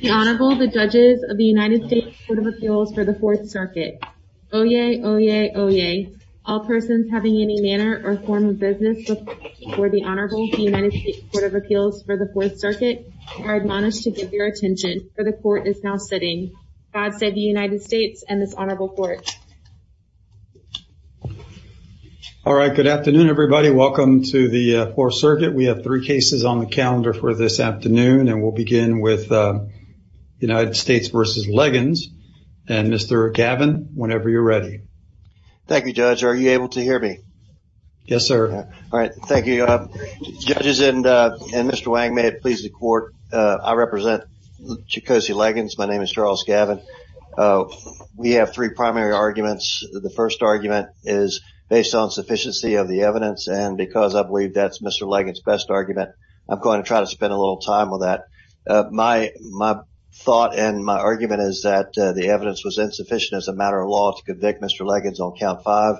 The Honorable, the Judges of the United States Court of Appeals for the Fourth Circuit. Oyez, oyez, oyez. All persons having any manner or form of business before the Honorable of the United States Court of Appeals for the Fourth Circuit are admonished to give your attention, for the Court is now sitting. God save the United States and this Honorable Court. All right, good afternoon everybody. Welcome to the Fourth Circuit. We have three cases on calendar for this afternoon and we'll begin with United States v. Legins and Mr. Gavin, whenever you're ready. Thank you, Judge. Are you able to hear me? Yes, sir. All right, thank you. Judges and Mr. Wang, may it please the Court, I represent Chikosi Legins. My name is Charles Gavin. We have three primary arguments. The first argument is based on sufficiency of the evidence and because I believe that's Mr. Legins' best argument, I'm going to try to spend a little time with that. My thought and my argument is that the evidence was insufficient as a matter of law to convict Mr. Legins on count five.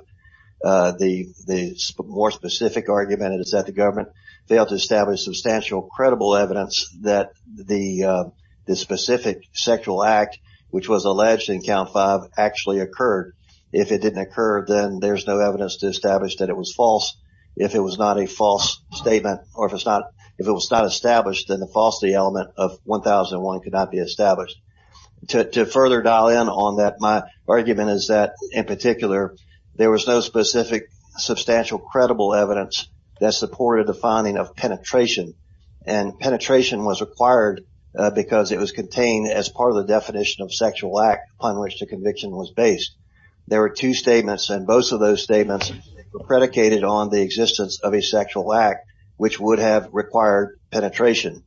The more specific argument is that the government failed to establish substantial credible evidence that the specific sexual act, which was alleged in count five, actually occurred. If it didn't occur, then there's no evidence to establish that it was false. If it was not a false statement or if it was not established, then the falsity element of 1001 could not be established. To further dial in on that, my argument is that in particular, there was no specific substantial credible evidence that supported the finding of penetration and penetration was required because it was contained as part of the definition of sexual act upon which the conviction was based. There were two statements and both of those predicated on the existence of a sexual act which would have required penetration.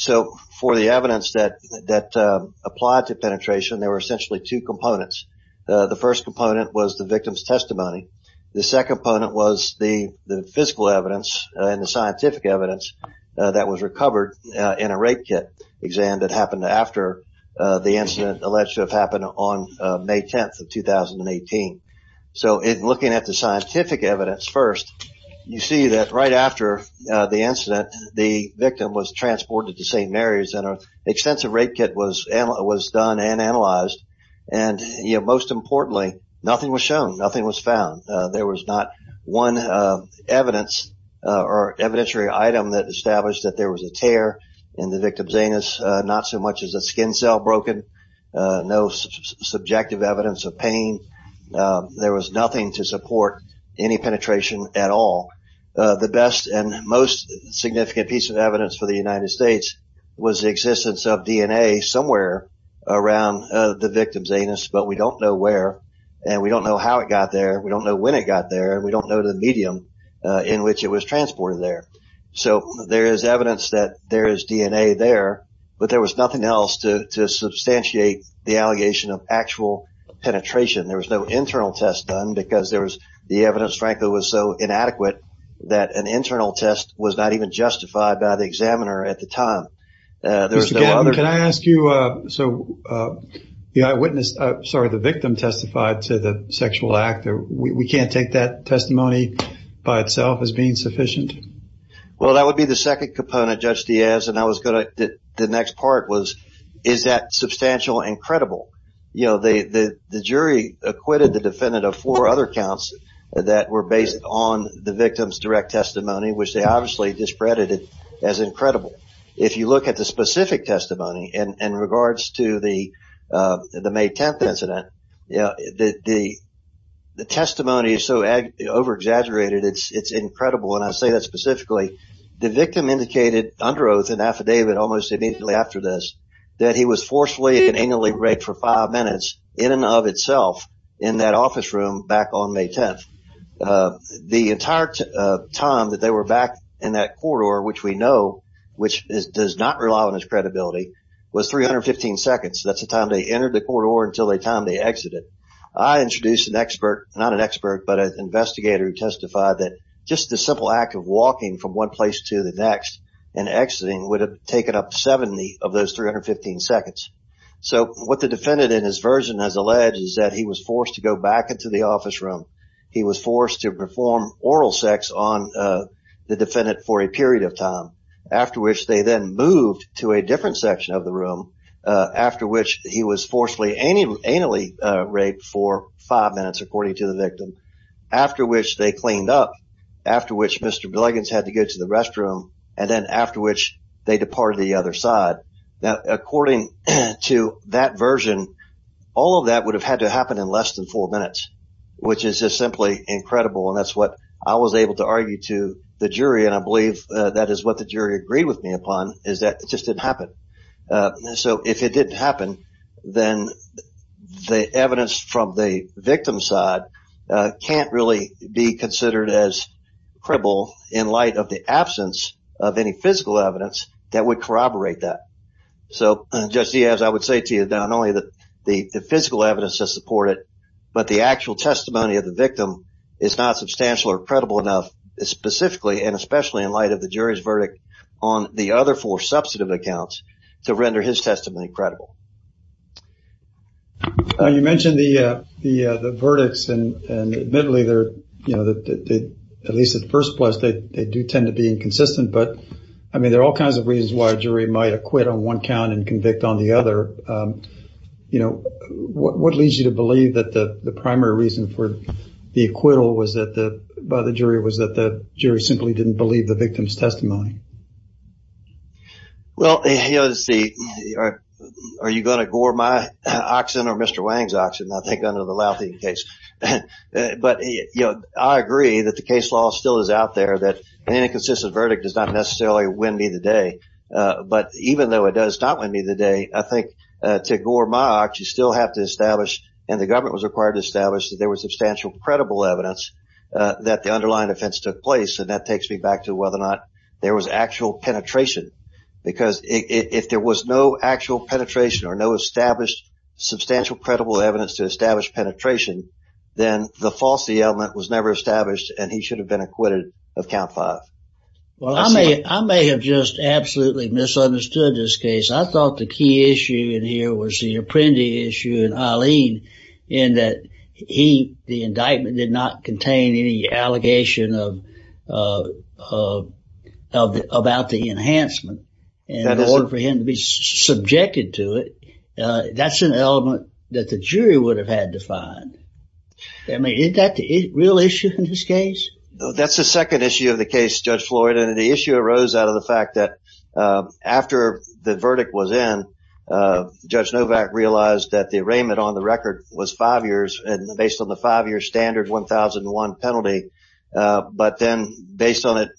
For the evidence that applied to penetration, there were essentially two components. The first component was the victim's testimony. The second component was the physical evidence and the scientific evidence that was recovered in a rape kit exam that happened after the incident on May 10, 2018. Looking at the scientific evidence first, you see that right after the incident, the victim was transported to St. Mary's and an extensive rape kit was done and analyzed. Most importantly, nothing was shown. Nothing was found. There was not one evidence or evidentiary item that established that there was a tear in the victim's anus, not so much as a skin cell broken. No subjective evidence of pain. There was nothing to support any penetration at all. The best and most significant piece of evidence for the United States was the existence of DNA somewhere around the victim's anus, but we don't know where and we don't know how it got there. We don't know when it got there. We don't know the medium in which it was transported there. There is evidence that there is DNA there, but there was nothing else to substantiate the allegation of actual penetration. There was no internal test done because the evidence, frankly, was so inadequate that an internal test was not even justified by the examiner at the time. Mr. Gatton, can I ask you, the eyewitness, sorry, the victim testified to the sexual act. We can't take that testimony by itself as being the next part. Is that substantial and credible? The jury acquitted the defendant of four other counts that were based on the victim's direct testimony, which they obviously discredited as incredible. If you look at the specific testimony in regards to the May 10th incident, the testimony is so over-exaggerated, it's incredible, and I say that specifically. The victim indicated under oath and affidavit almost immediately after this that he was forcefully and angrily raped for five minutes in and of itself in that office room back on May 10th. The entire time that they were back in that corridor, which we know, which does not rely on his credibility, was 315 seconds. That's the time they entered the corridor until the time they exited. I introduced an expert, not an expert, but an investigator who testified that just the simple act of walking from one place to the next and exiting would have taken up 70 of those 315 seconds. So what the defendant in his version has alleged is that he was forced to go back into the office room. He was forced to perform oral sex on the defendant for a period of time, after which they then moved to a different section of the room, after which he was forcefully anally raped for five minutes, according to the victim, after which they cleaned up, after which Mr. Bliggins had to go to the restroom, and then after which they departed the other side. Now, according to that version, all of that would have had to happen in less than four minutes, which is just simply incredible, and that's what I was able to argue to the jury, and I believe that is what the jury agreed with me upon, is that it just didn't happen. So if it didn't happen, then the evidence from the victim's side can't really be considered as cripple in light of the absence of any physical evidence that would corroborate that. So, Judge Diaz, I would say to you that not only the physical evidence to support it, but the actual testimony of the victim is not substantial or credible enough, specifically and especially in light of the jury's verdict on the other four substantive accounts, to render his testimony credible. You mentioned the verdicts, and admittedly, at least at first glance, they do tend to be inconsistent, but there are all kinds of reasons why a jury might acquit on one count and convict on the other. What leads you to believe that the primary reason for the acquittal by the jury was that the jury simply didn't believe the victim's testimony? Well, are you going to gore my oxen or Mr. Wang's oxen, I think, under the Louthien case? But I agree that the case law still is out there, that an inconsistent verdict does not necessarily win me the day, but even though it does not win me the day, I think to gore my ox, you still have to establish, and the government was required to establish, that there was and that takes me back to whether or not there was actual penetration, because if there was no actual penetration or no established substantial credible evidence to establish penetration, then the falsity element was never established and he should have been acquitted of count five. Well, I may have just absolutely misunderstood this case. I thought the key issue in here was the Apprendi issue and Eileen in that the indictment did not contain any allegation about the enhancement and in order for him to be subjected to it, that's an element that the jury would have had to find. I mean, is that the real issue in this case? That's the second issue of the case, Judge Floyd, and the issue arose out of the fact that after the verdict was in, Judge Novak realized that the arraignment on the record was five years and based on the five-year standard 1001 penalty, but then based on it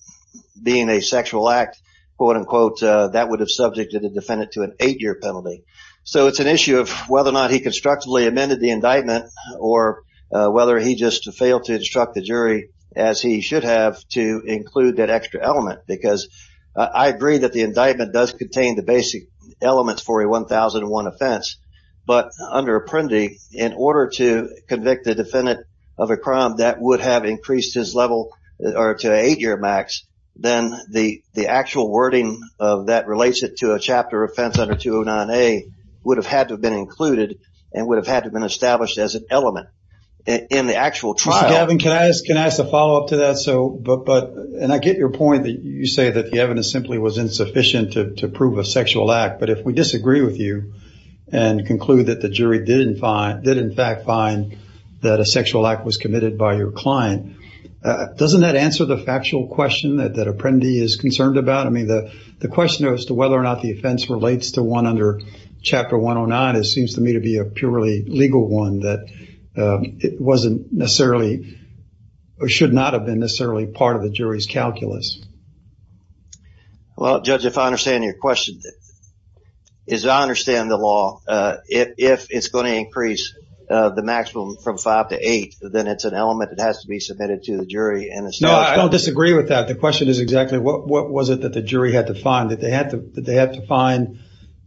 being a sexual act, quote-unquote, that would have subjected the defendant to an eight-year penalty. So it's an issue of whether or not he constructively amended the indictment or whether he just failed to instruct the jury as he should have to include that extra element, because I agree that the indictment does contain the basic elements for a 1001 offense, but under Apprendi, in order to convict the defendant of a crime that would have increased his level to an eight-year max, then the actual wording that relates it to a chapter offense under 209A would have had to have been included and would have had to have been established as an element in the actual trial. Mr. Gavin, can I ask a follow-up to that? And I get your point that you say that the evidence simply was insufficient to prove a sexual act, but if we disagree with you and conclude that the jury did, in fact, find that a sexual act was committed by your client, doesn't that answer the factual question that Apprendi is concerned about? I mean, the question as to whether or not the offense relates to one under Chapter 109 seems to me to be a purely legal one that it wasn't necessarily or should not have been necessarily part of the jury's calculus. Well, Judge, if I understand your question, as I understand the law, if it's going to increase the maximum from five to eight, then it's an element that has to be submitted to the jury. No, I don't disagree with that. The question is exactly what was it that the jury had to find, that they had to find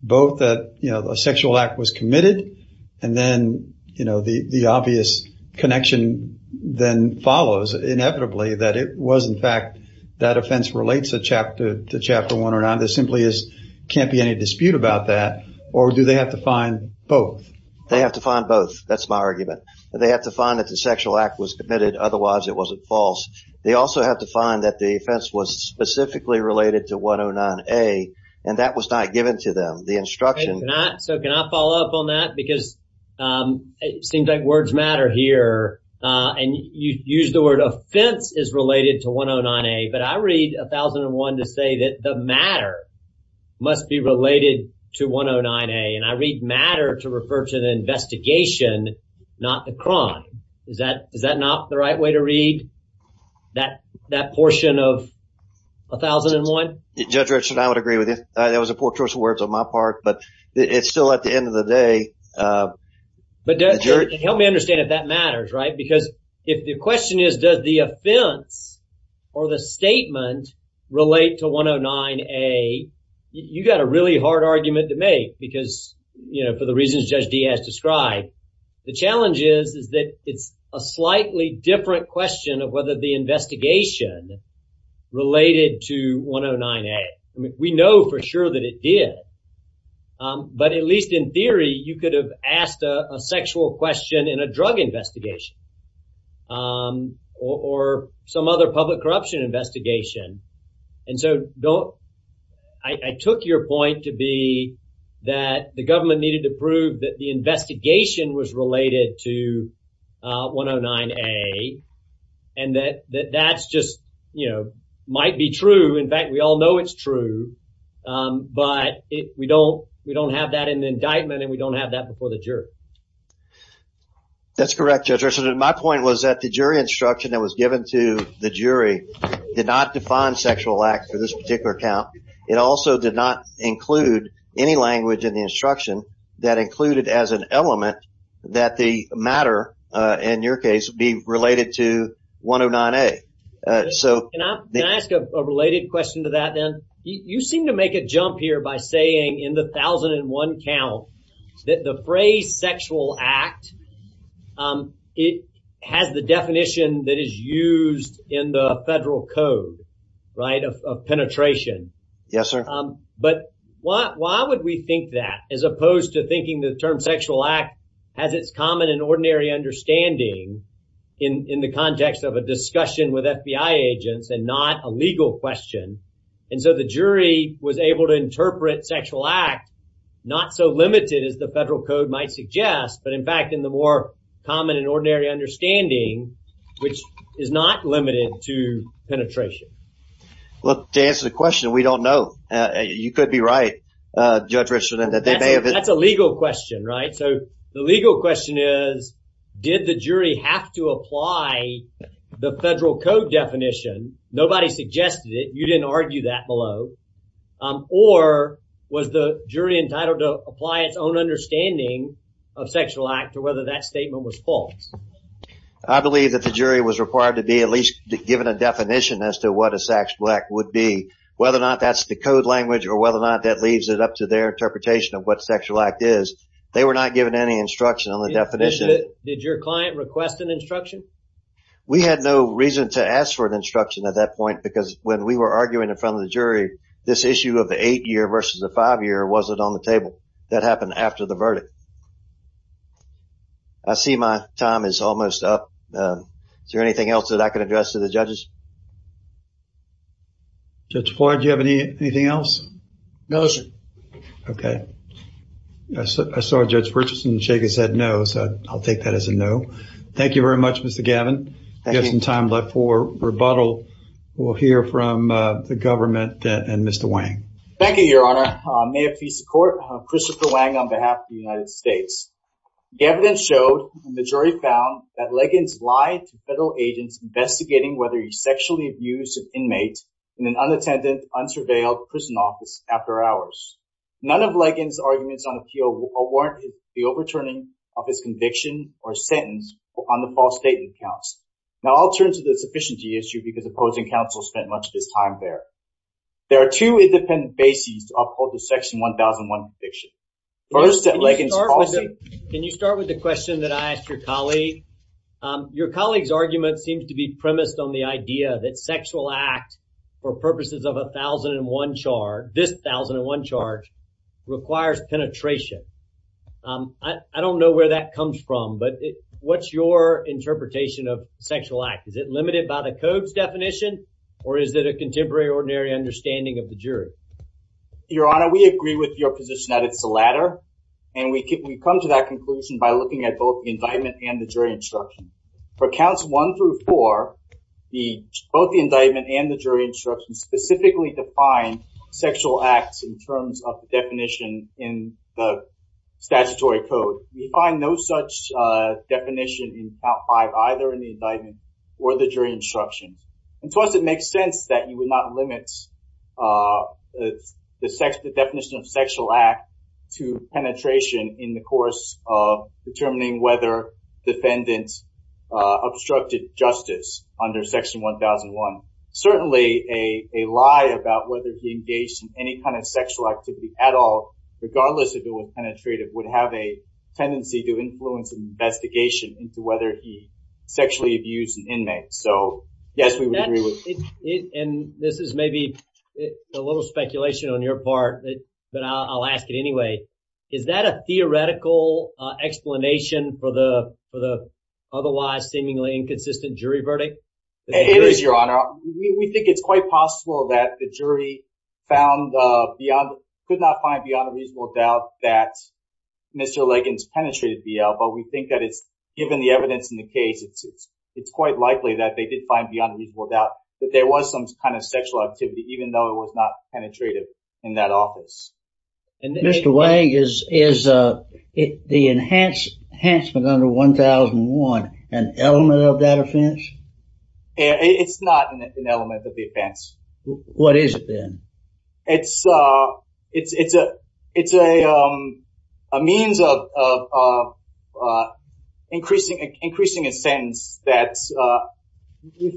both that a was, in fact, that offense relates to Chapter 109. There simply can't be any dispute about that, or do they have to find both? They have to find both. That's my argument. They have to find that the sexual act was committed, otherwise it wasn't false. They also have to find that the offense was specifically related to 109A, and that was not given to them, the instruction. So, can I follow up on that? Because it seems like words matter here, and you used the word offense is related to 109A, but I read 1001 to say that the matter must be related to 109A, and I read matter to refer to the investigation, not the crime. Is that not the right way to read that portion of 1001? Judge Richard, I would agree with you. That was a poor choice of words on my part, but it's still at the end of the day. But help me understand if that matters, right? Because if the question is does the offense or the statement relate to 109A, you got a really hard argument to make because, you know, for the reasons Judge Dee has described, the challenge is that it's a slightly different question of whether the investigation related to 109A. I mean, we know for sure that it did, but at least in theory, you could have asked a sexual question in a drug investigation or some other public corruption investigation. And so, I took your point to be that the government needed to prove that investigation was related to 109A and that that's just, you know, might be true. In fact, we all know it's true, but we don't have that in the indictment and we don't have that before the jury. That's correct, Judge Richard, and my point was that the jury instruction that was given to the jury did not define sexual acts for this particular account. It also did not include any language in the instruction that included as an element that the matter, in your case, be related to 109A. Can I ask a related question to that then? You seem to make a jump here by saying in the 1001 count that the phrase sexual act, it has the definition that is used in the indictment. Why would we think that as opposed to thinking the term sexual act has its common and ordinary understanding in the context of a discussion with FBI agents and not a legal question? And so, the jury was able to interpret sexual act not so limited as the federal code might suggest, but in fact, in the more common and ordinary understanding, which is not limited to Judge Richard. That's a legal question, right? So, the legal question is, did the jury have to apply the federal code definition? Nobody suggested it. You didn't argue that below. Or was the jury entitled to apply its own understanding of sexual act or whether that statement was false? I believe that the jury was required to be at least given a definition as to what a sex would be. Whether or not that's the code language or whether or not that leaves it up to their interpretation of what sexual act is. They were not given any instruction on the definition. Did your client request an instruction? We had no reason to ask for an instruction at that point because when we were arguing in front of the jury, this issue of the eight-year versus the five-year wasn't on the table. That happened after the verdict. I see my time is almost up. Is there anything else that I can address to the judges? Judge Floyd, do you have anything else? No, sir. Okay. I saw Judge Richardson shake his head no, so I'll take that as a no. Thank you very much, Mr. Gavin. We have some time left for rebuttal. We'll hear from the government and Mr. Wang. Thank you, Your Honor. May it please the court, Christopher Wang on behalf of the United States. The evidence showed and the jury found that Liggins lied to federal agents investigating whether he sexually abused an inmate in an unattended, unsurveilled prison office after hours. None of Liggins' arguments on appeal warranted the overturning of his conviction or sentence on the false statement counts. Now, I'll turn to the sufficiency issue because opposing counsel spent much of his time there. There are two independent bases to uphold the Section 1001 conviction. First, at Liggins' policy. Can you start with the question that I asked your colleague? Your colleague's argument seems to be premised on the idea that sexual act for purposes of a 1001 charge, this 1001 charge requires penetration. I don't know where that comes from, but what's your interpretation of sexual act? Is it limited by the code's definition or is it a contemporary ordinary understanding of the jury? Your Honor, we agree with your position that it's the latter and we come to that conclusion by looking at both the indictment and the jury instruction. For counts one through four, both the indictment and the jury instruction specifically define sexual acts in terms of the definition in the statutory code. We find no such definition in count five, either in the indictment or the jury instruction. And to us, it makes sense that you would not limit the definition of sexual act to penetration in the course of determining whether defendants obstructed justice under Section 1001. Certainly, a lie about whether he engaged in any kind of sexual activity at all, regardless if it was penetrative, would have a tendency to influence an investigation into whether he sexually abused an inmate. So yes, it and this is maybe a little speculation on your part, but I'll ask it anyway. Is that a theoretical explanation for the for the otherwise seemingly inconsistent jury verdict? It is, Your Honor. We think it's quite possible that the jury found beyond, could not find beyond a reasonable doubt that Mr. Liggins penetrated BL, but we think that it's given the evidence in the case, it's quite likely that they did find beyond a reasonable doubt that there was some kind of sexual activity, even though it was not penetrative in that office. And Mr. Wagg, is the enhancement under 1001 an element of that offense? It's not an element of the offense. What is it then? It's, it's, it's a, it's a means of increasing, increasing a sense that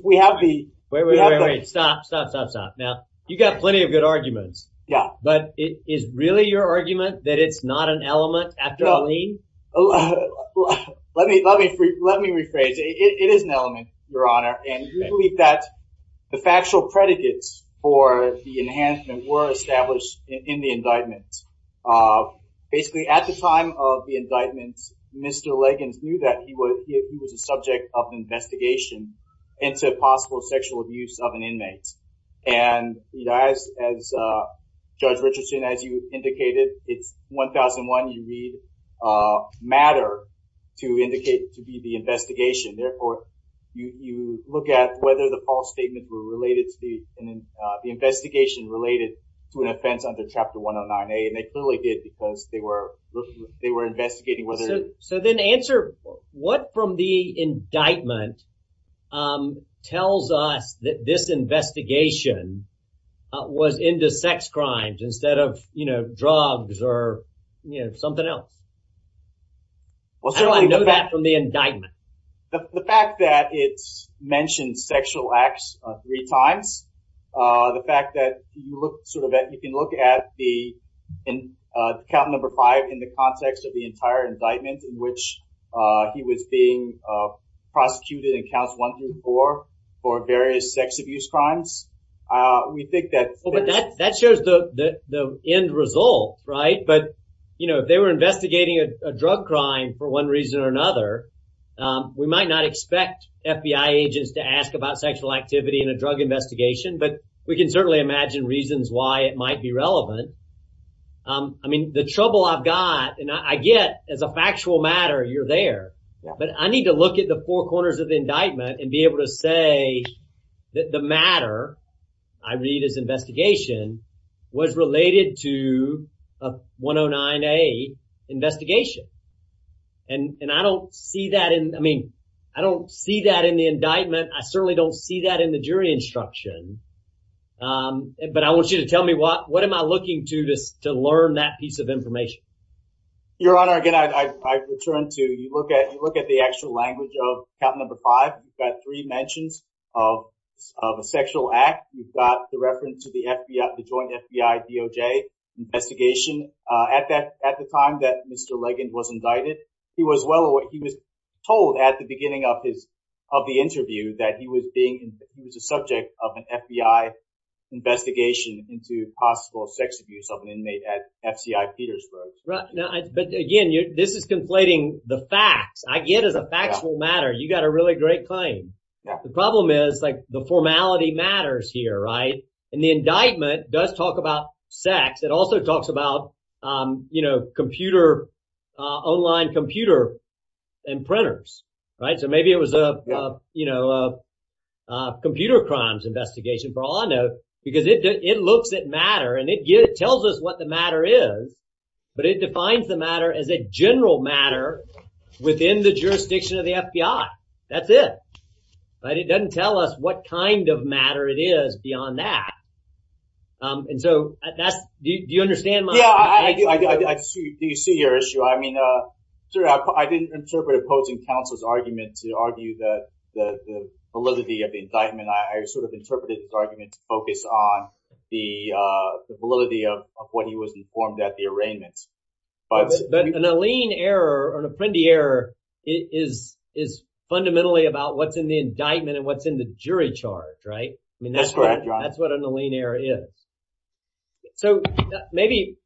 we have the... Wait, wait, wait, wait, stop, stop, stop, stop. Now, you got plenty of good arguments. Yeah. But it is really your argument that it's not an element after a lien? Let me, let me, let me rephrase. It is an element, Your Honor, and we believe that the factual predicates for the enhancement were established in the indictment. Basically, at the time of the indictment, Mr. Liggins knew that he was, he was a subject of investigation into possible sexual abuse of an inmate. And as, as Judge Richardson, as you indicated, it's 1001, you read matter to indicate, to be the investigation. Therefore, you look at whether the false statements were related to the investigation related to an offense under Chapter 109A. And they clearly did because they were, they were investigating whether... So then answer, what from the indictment tells us that this investigation was into sex crimes instead of, you know, drugs or, you know, something else? I know that from the indictment. The fact that it's mentioned sexual acts three times, the fact that you look sort of at, you can look at the count number five in the context of the entire indictment in which he was being prosecuted in counts one through four for various sex abuse crimes. We think that... Well, but that, that shows the end result, right? But, you know, if they were investigating a drug crime for one reason or another, we might not expect FBI agents to ask about sexual activity in a drug investigation, but we can certainly imagine reasons why it might be relevant. I mean, the trouble I've got, and I get as a factual matter, you're there, but I need to look at the four corners of the indictment and be able to say that the matter I read as investigation was related to a 109A investigation. And, and I don't see that in, I mean, I don't see that in the indictment. I certainly don't see that in the jury instruction. But I want you to tell me what, what am I looking to, to learn that piece of information? Your Honor, again, I, I return to, you look at, you look at the actual language of count number five. You've got three mentions of, of a sexual act. You've got the reference to the FBI, the joint FBI-DOJ investigation. At that, at the time that Mr. Leggend was indicted, he was well aware, he was told at the beginning of his, of the interview that he was being, he was a subject of an FBI investigation into possible sex abuse of an inmate at FCI Petersburg. Right. Now, but again, this is conflating the facts. I get as a factual matter, you got a really great claim. The problem is like the formality matters here, right? And the indictment does talk about sex. It also talks about, you know, computer, online computer and printers, right? So maybe it was a, you know, a computer crimes investigation for all I know, because it, it looks at matter and it tells us what the matter is, but it defines the matter as a general matter within the jurisdiction of the FBI. That's it, right? It doesn't tell us what kind of matter it is beyond that. And so that's, do you understand my point? Yeah, I do. I see, do you see your issue? I mean, sir, I didn't interpret opposing counsel's argument to argue that the validity of the indictment, I sort of interpreted the argument to focus on the validity of what he was informed at the arraignment. But an Alene error or an Apprendi error is fundamentally about what's in the indictment and what's in the jury charge, right? I mean, that's correct. That's what an Alene error is. So maybe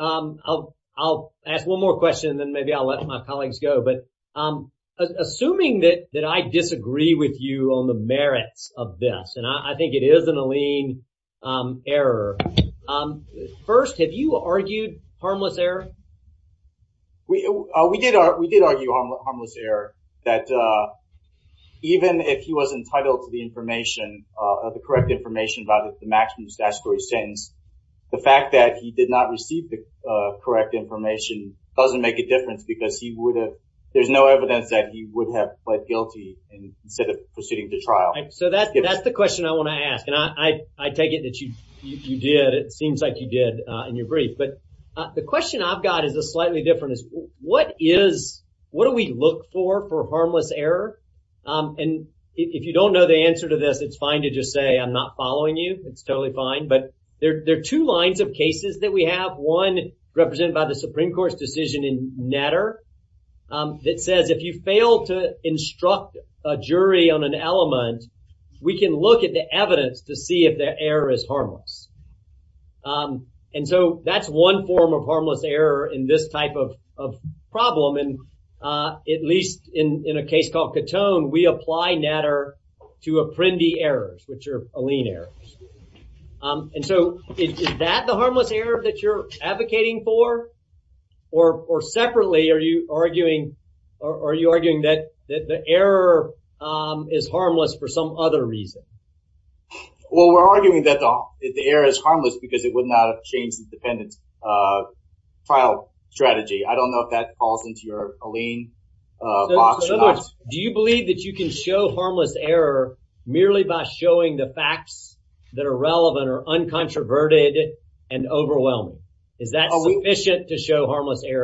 I'll ask one more question and then maybe I'll let my colleagues go. But assuming that I disagree with you on the merits of this, and I think it is an Alene error. First, have you argued harmless error? We did argue harmless error, that even if he was entitled to the information, the correct information about the maximum statutory sentence, the fact that he did not receive the correct information doesn't make a difference because he would have, there's no evidence that he would have pled guilty instead of proceeding to trial. So that's the question I want to ask. And I take it that you did. It seems like you did in your brief. But the question I've got is a slightly different. What is, what do we look for for harmless error? And if you don't know the answer to this, it's fine to just say I'm not following you. It's totally fine. But there are two lines of cases that we have. One represented by the we can look at the evidence to see if the error is harmless. And so that's one form of harmless error in this type of problem. And at least in a case called Catone, we apply Natter to Apprendi errors, which are Alene errors. And so is that the harmless error that you're advocating for? Or separately, are you arguing, are you arguing that the error is harmless for some other reason? Well, we're arguing that the error is harmless because it would not have changed the defendant's trial strategy. I don't know if that falls into your Alene box. Do you believe that you can show harmless error merely by showing the facts that are relevant or uncontroverted and overwhelming? Is that sufficient to show that?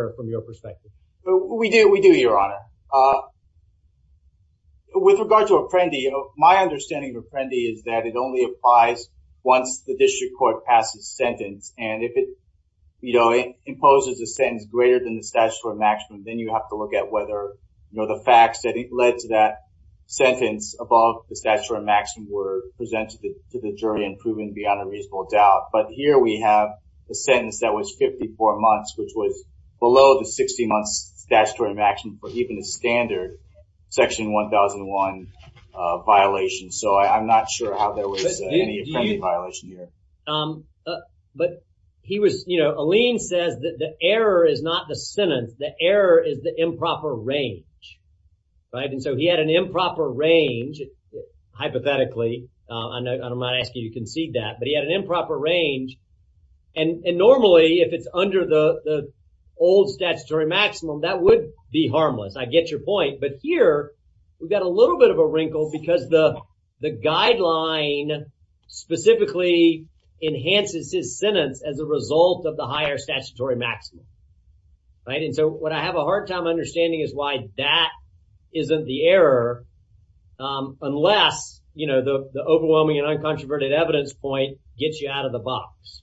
With regard to Apprendi, my understanding of Apprendi is that it only applies once the district court passes sentence. And if it imposes a sentence greater than the statutory maximum, then you have to look at whether the facts that led to that sentence above the statutory maximum were presented to the jury and proven beyond a reasonable doubt. But here we have a sentence that was 54 months, which was below the 60 months statutory maximum for even a standard section 1001 violation. So I'm not sure how there was any Apprendi violation here. But he was, you know, Alene says that the error is not the sentence. The error is the improper range, right? And so he had an improper range, hypothetically. I don't mind asking you to concede that. But he had an improper range. And normally if it's under the old statutory maximum, that would be harmless. I get your point. But here we've got a little bit of a wrinkle because the guideline specifically enhances his sentence as a result of the higher statutory maximum, right? And so what I have a hard time understanding is why that isn't the error unless, you know, the overwhelming and uncontroverted evidence point gets you out of the box.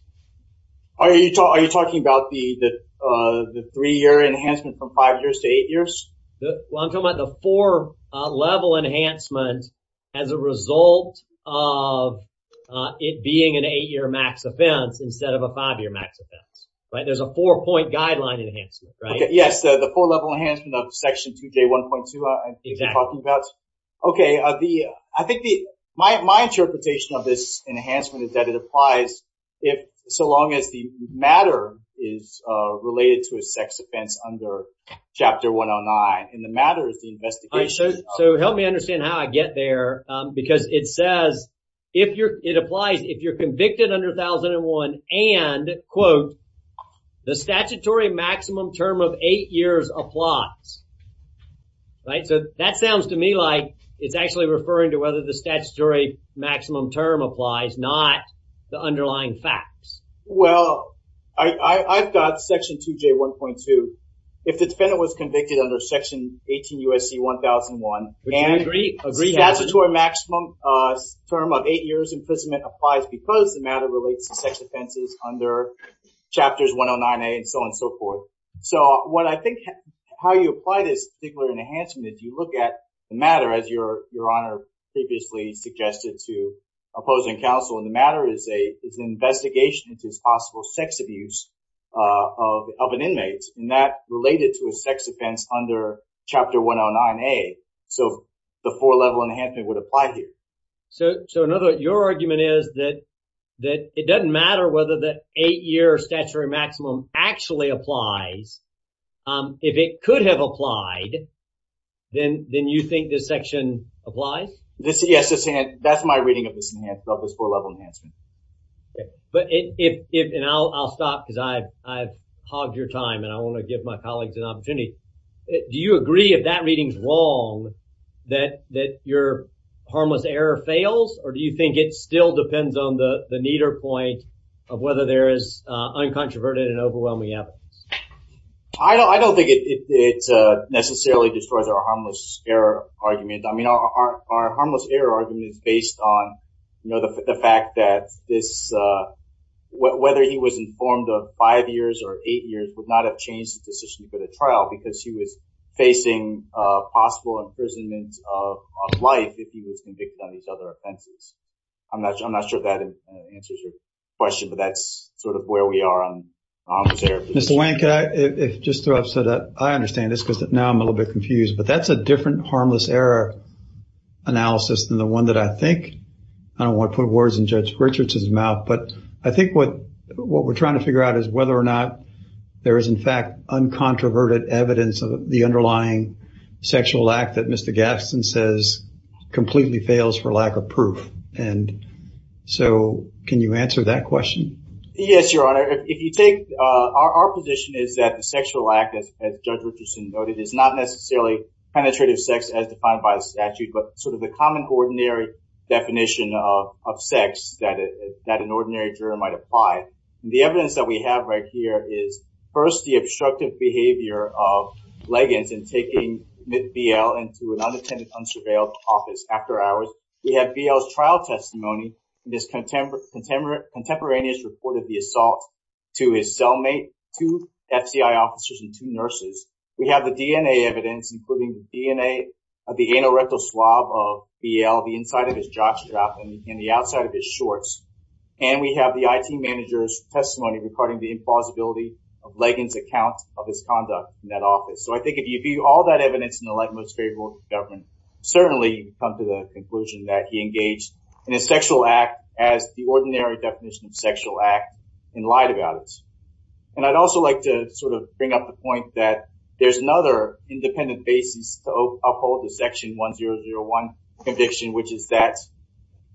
Are you talking about the three-year enhancement from five years to eight years? Well, I'm talking about the four-level enhancement as a result of it being an eight-year max offense instead of a five-year max offense, right? There's a four-point guideline enhancement, right? Yes, the four-level enhancement of Section 2J1.2, I think you're talking about. Okay. I think my interpretation of this enhancement is that it applies if so long as the matter is related to a sex offense under Chapter 109. And the matter is the investigation. So help me understand how I get there because it says, it applies if you're convicted under 1001 and, quote, the statutory maximum term of eight years applies, right? So that sounds to me like it's actually referring to whether the statutory maximum term applies, not the underlying facts. Well, I've got Section 2J1.2. If the defendant was convicted under Section 18 U.S.C. 1001 and the statutory maximum term of eight years imprisonment applies because the matter relates to sex offenses under Chapters 109A and so on and so forth. So what I think, how you apply this particular enhancement is you look at the matter as Your Honor previously suggested to opposing counsel and the matter is an investigation into this possible sex abuse of an inmate and that related to a sex offense under Chapter 109A. So the four-level enhancement would apply here. So, in other words, your argument is that it doesn't matter whether the eight-year statutory maximum actually applies. If it could have applied, then you think this section applies? Yes, that's my reading of this four-level enhancement. Okay, but if, and I'll stop because I've hogged your time and I want to give my colleagues an I don't think it necessarily destroys our harmless error argument. I mean, our harmless error argument is based on, you know, the fact that this, whether he was informed of five years or eight years would not have changed the decision for the trial because he was facing possible imprisonment of life if he was convicted on these other offenses. I'm not sure that answers your question, but that's sort of where we are on harmless error. Mr. Wayne, could I just throw up so that I understand this because now I'm a little bit confused, but that's a different harmless error analysis than the one that I think, I don't want to put words in Judge Richards's mouth, but I think what we're trying to figure out is whether or not there is in fact uncontroverted evidence of the underlying sexual act that Mr. Gadsden says completely fails for lack of proof. And so can you answer that question? Yes, your honor. If you take our position is that the sexual act as Judge Richardson noted is not necessarily penetrative sex as defined by the statute, but sort of the common ordinary definition of sex that an ordinary juror might apply. The evidence that we have right here is first the obstructive behavior of Leggins in taking BL into an unattended, unsurveilled office after hours. We have BL's trial testimony in this contemporaneous report of the assault to his cellmate, two FCI officers, and two nurses. We have the DNA evidence, including the DNA of the anal rectal swab of BL, the inside of his jockstrap, and the outside of his shorts. And we have the IT manager's testimony regarding the implausibility of Leggins' account of his conduct in that office. So I think if you view all that evidence in the light most favorable for government, certainly you come to the conclusion that he engaged in a sexual act as the ordinary definition of sexual act and lied about it. And I'd also like to sort of bring up the point that there's another independent basis to uphold the section 1001 conviction, which is that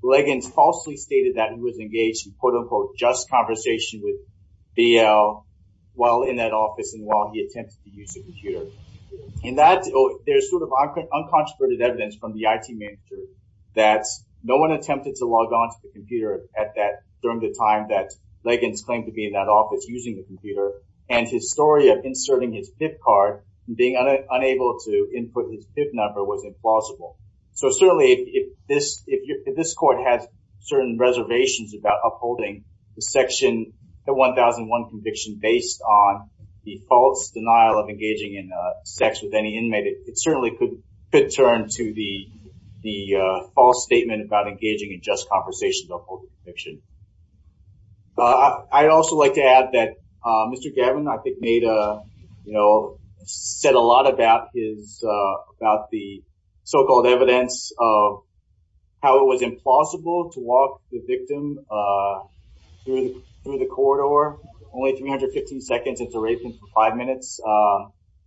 Leggins falsely stated that he was engaged in quote-unquote just conversation with BL while in that office and while he attempted to use a computer. And there's sort of uncontroverted evidence from the IT manager that no one attempted to log on to the computer during the time that Leggins claimed to be in that office using the computer, and his story of inserting his PIP card and being unable to input his PIP number was implausible. So certainly if this court has certain reservations about upholding the section, the 1001 conviction based on the false denial of engaging in sex with any inmate, it certainly could turn to the false statement about engaging in just conversation to uphold the conviction. I'd also like to add that Mr. Gavin, I think, you know, said a lot about the so-called evidence of how it was implausible to walk the victim through the corridor only 315 seconds into raping for five minutes.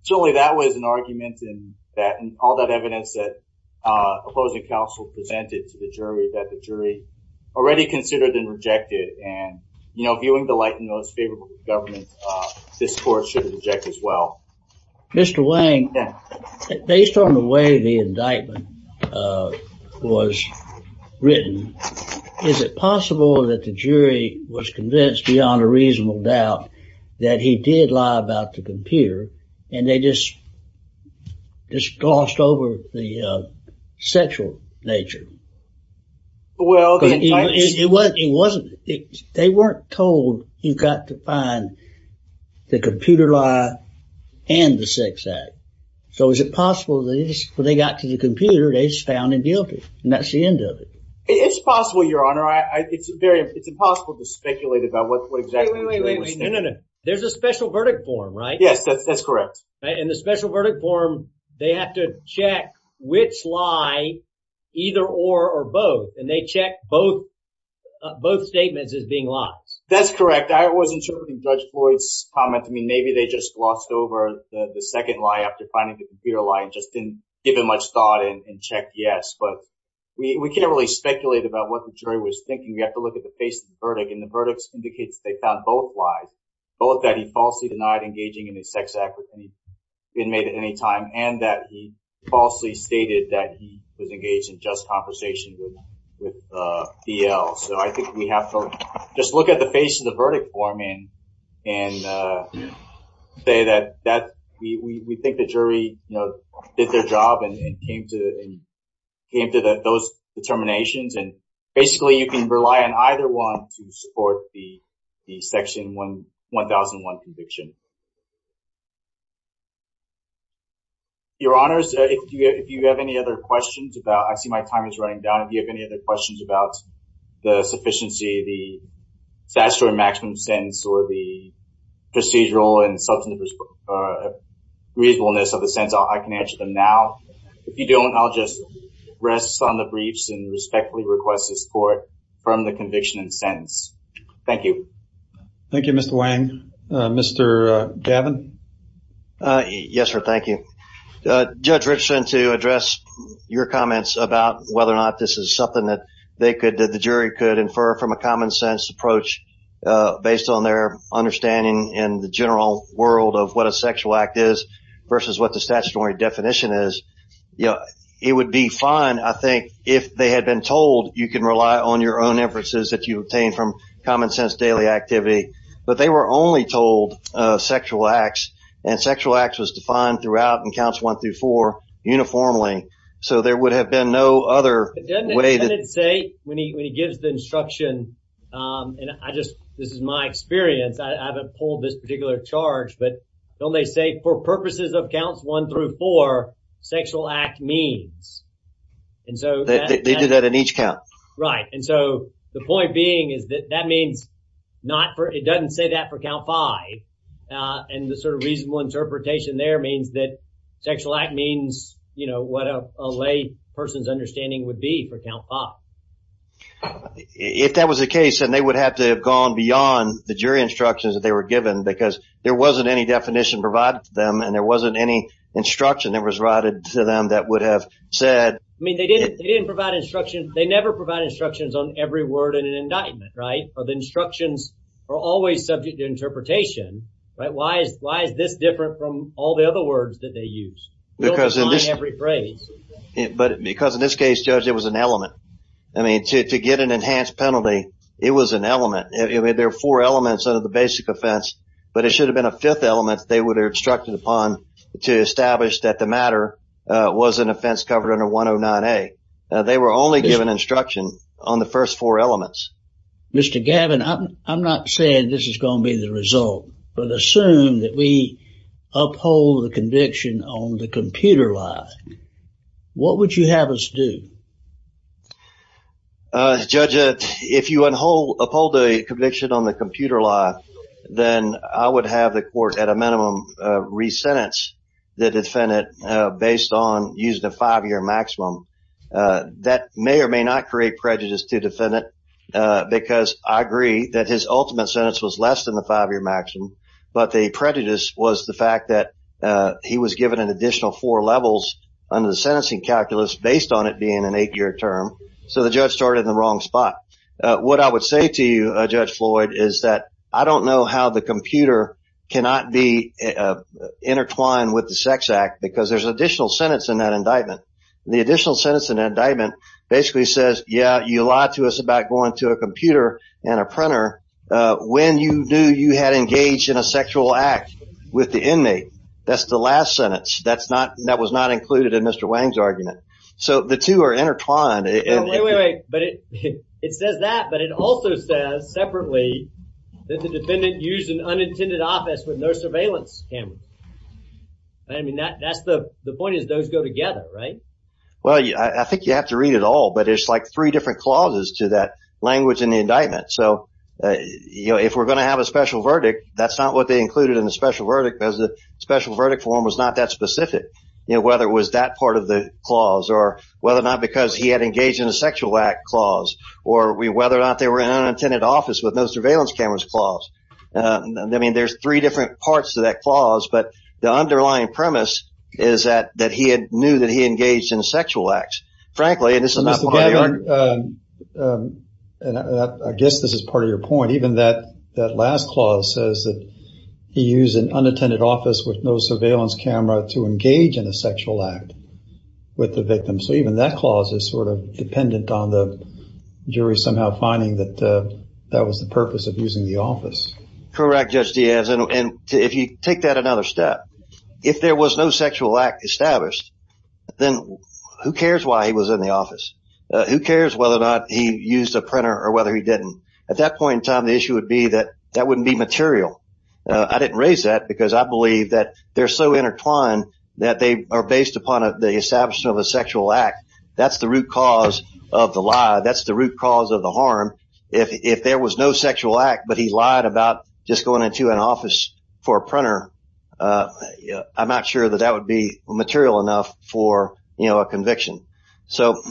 Certainly that was an argument and all that evidence that opposing counsel presented to the jury that the jury already considered and rejected. And, you know, viewing the light in those favorable governments, this court should reject as well. Mr. Wang, based on the way the indictment was written, is it possible that the jury was convinced beyond a reasonable doubt that he did lie about the computer and they just glossed over the sexual nature? Well, it wasn't. They weren't told you've got to find the computer lie and the sex act. So is it possible that when they got to the computer, they just found him guilty? And that's the end of it. It's possible, Your Honor. It's very, it's impossible to speculate about what exactly the jury was thinking. No, no, no. There's a special verdict form, right? Yes, that's correct. In the special verdict form, they have to check which lie, either or, or both. And they check both statements as being lies. That's correct. I was interpreting Judge Floyd's comment. I mean, maybe they just glossed over the second lie after finding the computer lie and just didn't give it much thought and check yes. But we can't really speculate about what the jury was thinking. We have to look at the face of the verdict. And the verdict indicates they found both lies, both that he falsely denied engaging in a sex act with an inmate at any time, and that he falsely stated that he was engaged in just conversation with DL. So I think we have to just look at the face of the verdict form and say that we think the jury did their job and came to those determinations. And basically, you can rely on either one to support the Section 1001 conviction. Your Honors, if you have any other questions about, I see my time is running down. If you have any other questions about the sufficiency, the statutory maximum sentence or the procedural and substantive reasonableness of the sentence, I can answer them now. If you don't, I'll just send the briefs and respectfully request this court from the conviction and sentence. Thank you. Thank you, Mr. Wang. Mr. Gavin? Yes, sir. Thank you. Judge Richardson, to address your comments about whether or not this is something that the jury could infer from a common sense approach based on their understanding in the general world of what a sexual act is versus what the statutory definition is, it would be fine, if they had been told you can rely on your own inferences that you obtain from common sense daily activity. But they were only told sexual acts and sexual acts was defined throughout and counts one through four uniformly. So there would have been no other way to say when he gives the instruction. And I just this is my experience. I haven't pulled this particular charge. But don't they say for purposes of counts one through four, sexual act means they do that in each count. Right. And so the point being is that that means not for it doesn't say that for count five. And the sort of reasonable interpretation there means that sexual act means, you know, what a lay person's understanding would be for count five. If that was the case, and they would have to have gone beyond the jury instructions that they were given, because there wasn't any definition provided them and there wasn't any instruction that was routed to them that would have said, I mean, they didn't they didn't provide instruction, they never provide instructions on every word in an indictment, right? Or the instructions are always subject to interpretation, right? Why is why is this different from all the other words that they use? Because every phrase, but because in this case, judge, it was an element. I mean, to get an enhanced penalty, it was an element. There are four elements under the basic offense, but it should have been a fifth element they would have instructed upon to establish that the matter was an offense covered under 109A. They were only given instruction on the first four elements. Mr. Gavin, I'm not saying this is going to be the result, but assume that we uphold the conviction on the computer lie. What would you have us do? Judge, if you uphold the conviction on the computer lie, then I would have the court at a based on using a five-year maximum. That may or may not create prejudice to defendant, because I agree that his ultimate sentence was less than the five-year maximum, but the prejudice was the fact that he was given an additional four levels under the sentencing calculus based on it being an eight-year term. So the judge started in the wrong spot. What I would say to you, Judge Floyd, is that I don't know how the computer cannot be intertwined with the sex act, because there's additional sentence in that indictment. The additional sentence in that indictment basically says, yeah, you lied to us about going to a computer and a printer when you knew you had engaged in a sexual act with the inmate. That's the last sentence. That's not, that was not included in Mr. Wang's argument. So the two are intertwined. Wait, wait, wait, but it says that, but it also says separately that the defendant used an unintended office with no surveillance cameras. I mean, that, that's the, the point is those go together, right? Well, I think you have to read it all, but it's like three different clauses to that language in the indictment. So, you know, if we're going to have a special verdict, that's not what they included in the special verdict, because the special verdict form was not that specific. You know, whether it was that part of the clause or whether or not, because he had engaged in a sexual act clause or whether or not they were in an unintended office with no surveillance cameras clause. I mean, there's three different parts to that clause, but the underlying premise is that, that he had knew that he engaged in a sexual act, frankly, and this is not. I guess this is part of your point. Even that, that last clause says that he used an unattended office with no surveillance camera to engage in a sexual act with the victim. So even that clause is sort of dependent on the jury somehow finding that that was the purpose of using the office. Correct, Judge Diaz. And if you take that another step, if there was no sexual act established, then who cares why he was in the office? Who cares whether or not he used a printer or whether he didn't? At that point in time, the issue would be that that wouldn't be material. I didn't raise that because I believe that they're so intertwined that they are based upon the establishment of a sexual act. That's the root cause of the lie. That's the root cause of the harm. If there was no sexual act, but he lied about just going into an office for a printer, I'm not sure that that would be material enough for, you know, a conviction. So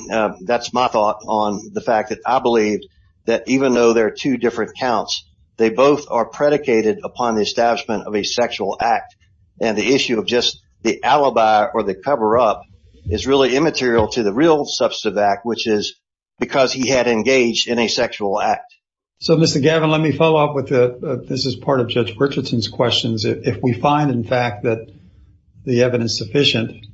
that's my thought on the fact that I believe that even though there are two different counts, they both are predicated upon the establishment of a sexual act. And the issue of just the alibi or the cover-up is really immaterial to the real substantive act, which is because he had engaged in a sexual act. So, Mr. Gavin, let me follow up with the, this is part of Judge Richardson's questions. If we find, in fact, that the evidence sufficient,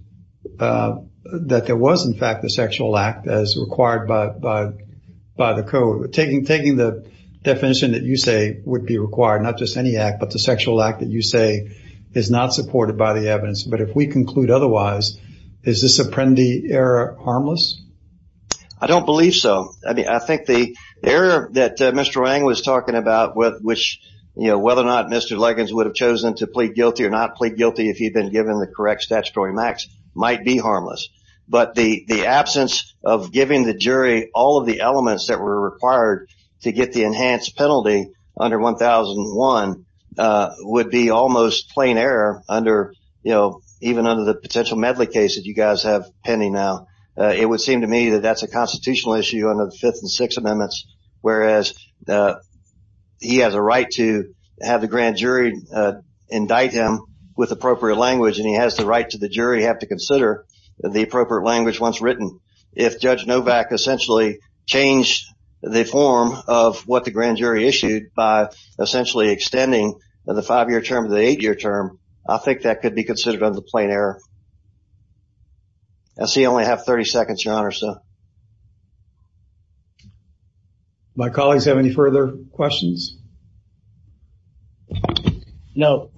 that there was, in fact, the sexual act as required by the code. Taking the definition that you say would be required, not just any act, but the sexual act that you say is not supported by the evidence. But if we conclude otherwise, is this Apprendi error harmless? I don't believe so. I mean, I think the error that Mr. Wang was talking about with which, you know, whether or not Mr. Luggins would have chosen to plead guilty or not plead guilty if he'd been given the correct statutory max might be harmless. But the absence of giving the jury all of the elements that were required to get the enhanced penalty under 1001 would be almost plain error under, you know, even under the potential Medley case that you guys have pending now. It would seem to me that that's a constitutional issue under the Fifth and Sixth Amendments, whereas he has a right to have the grand jury indict him with appropriate language and he has the right to the jury have to consider the appropriate language once written. If Judge the five-year term, the eight-year term, I think that could be considered under the plain error. I see I only have 30 seconds, Your Honor, so. My colleagues have any further questions? No.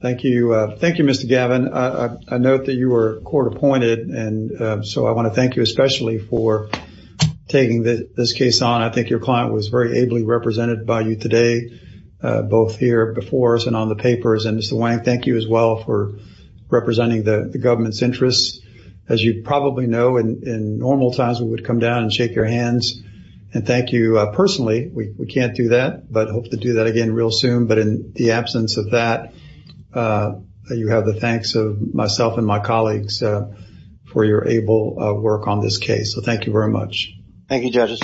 Thank you. Thank you, Mr. Gavin. I note that you were court appointed and so I want to thank you for taking this case on. I think your client was very ably represented by you today, both here before us and on the papers. And Mr. Wang, thank you as well for representing the government's interests. As you probably know, in normal times we would come down and shake your hands and thank you personally. We can't do that, but hope to do that again real soon. But in the absence of that, you have the thanks of myself and my colleagues for your able work on this case. So thank you very much. Thank you, judges.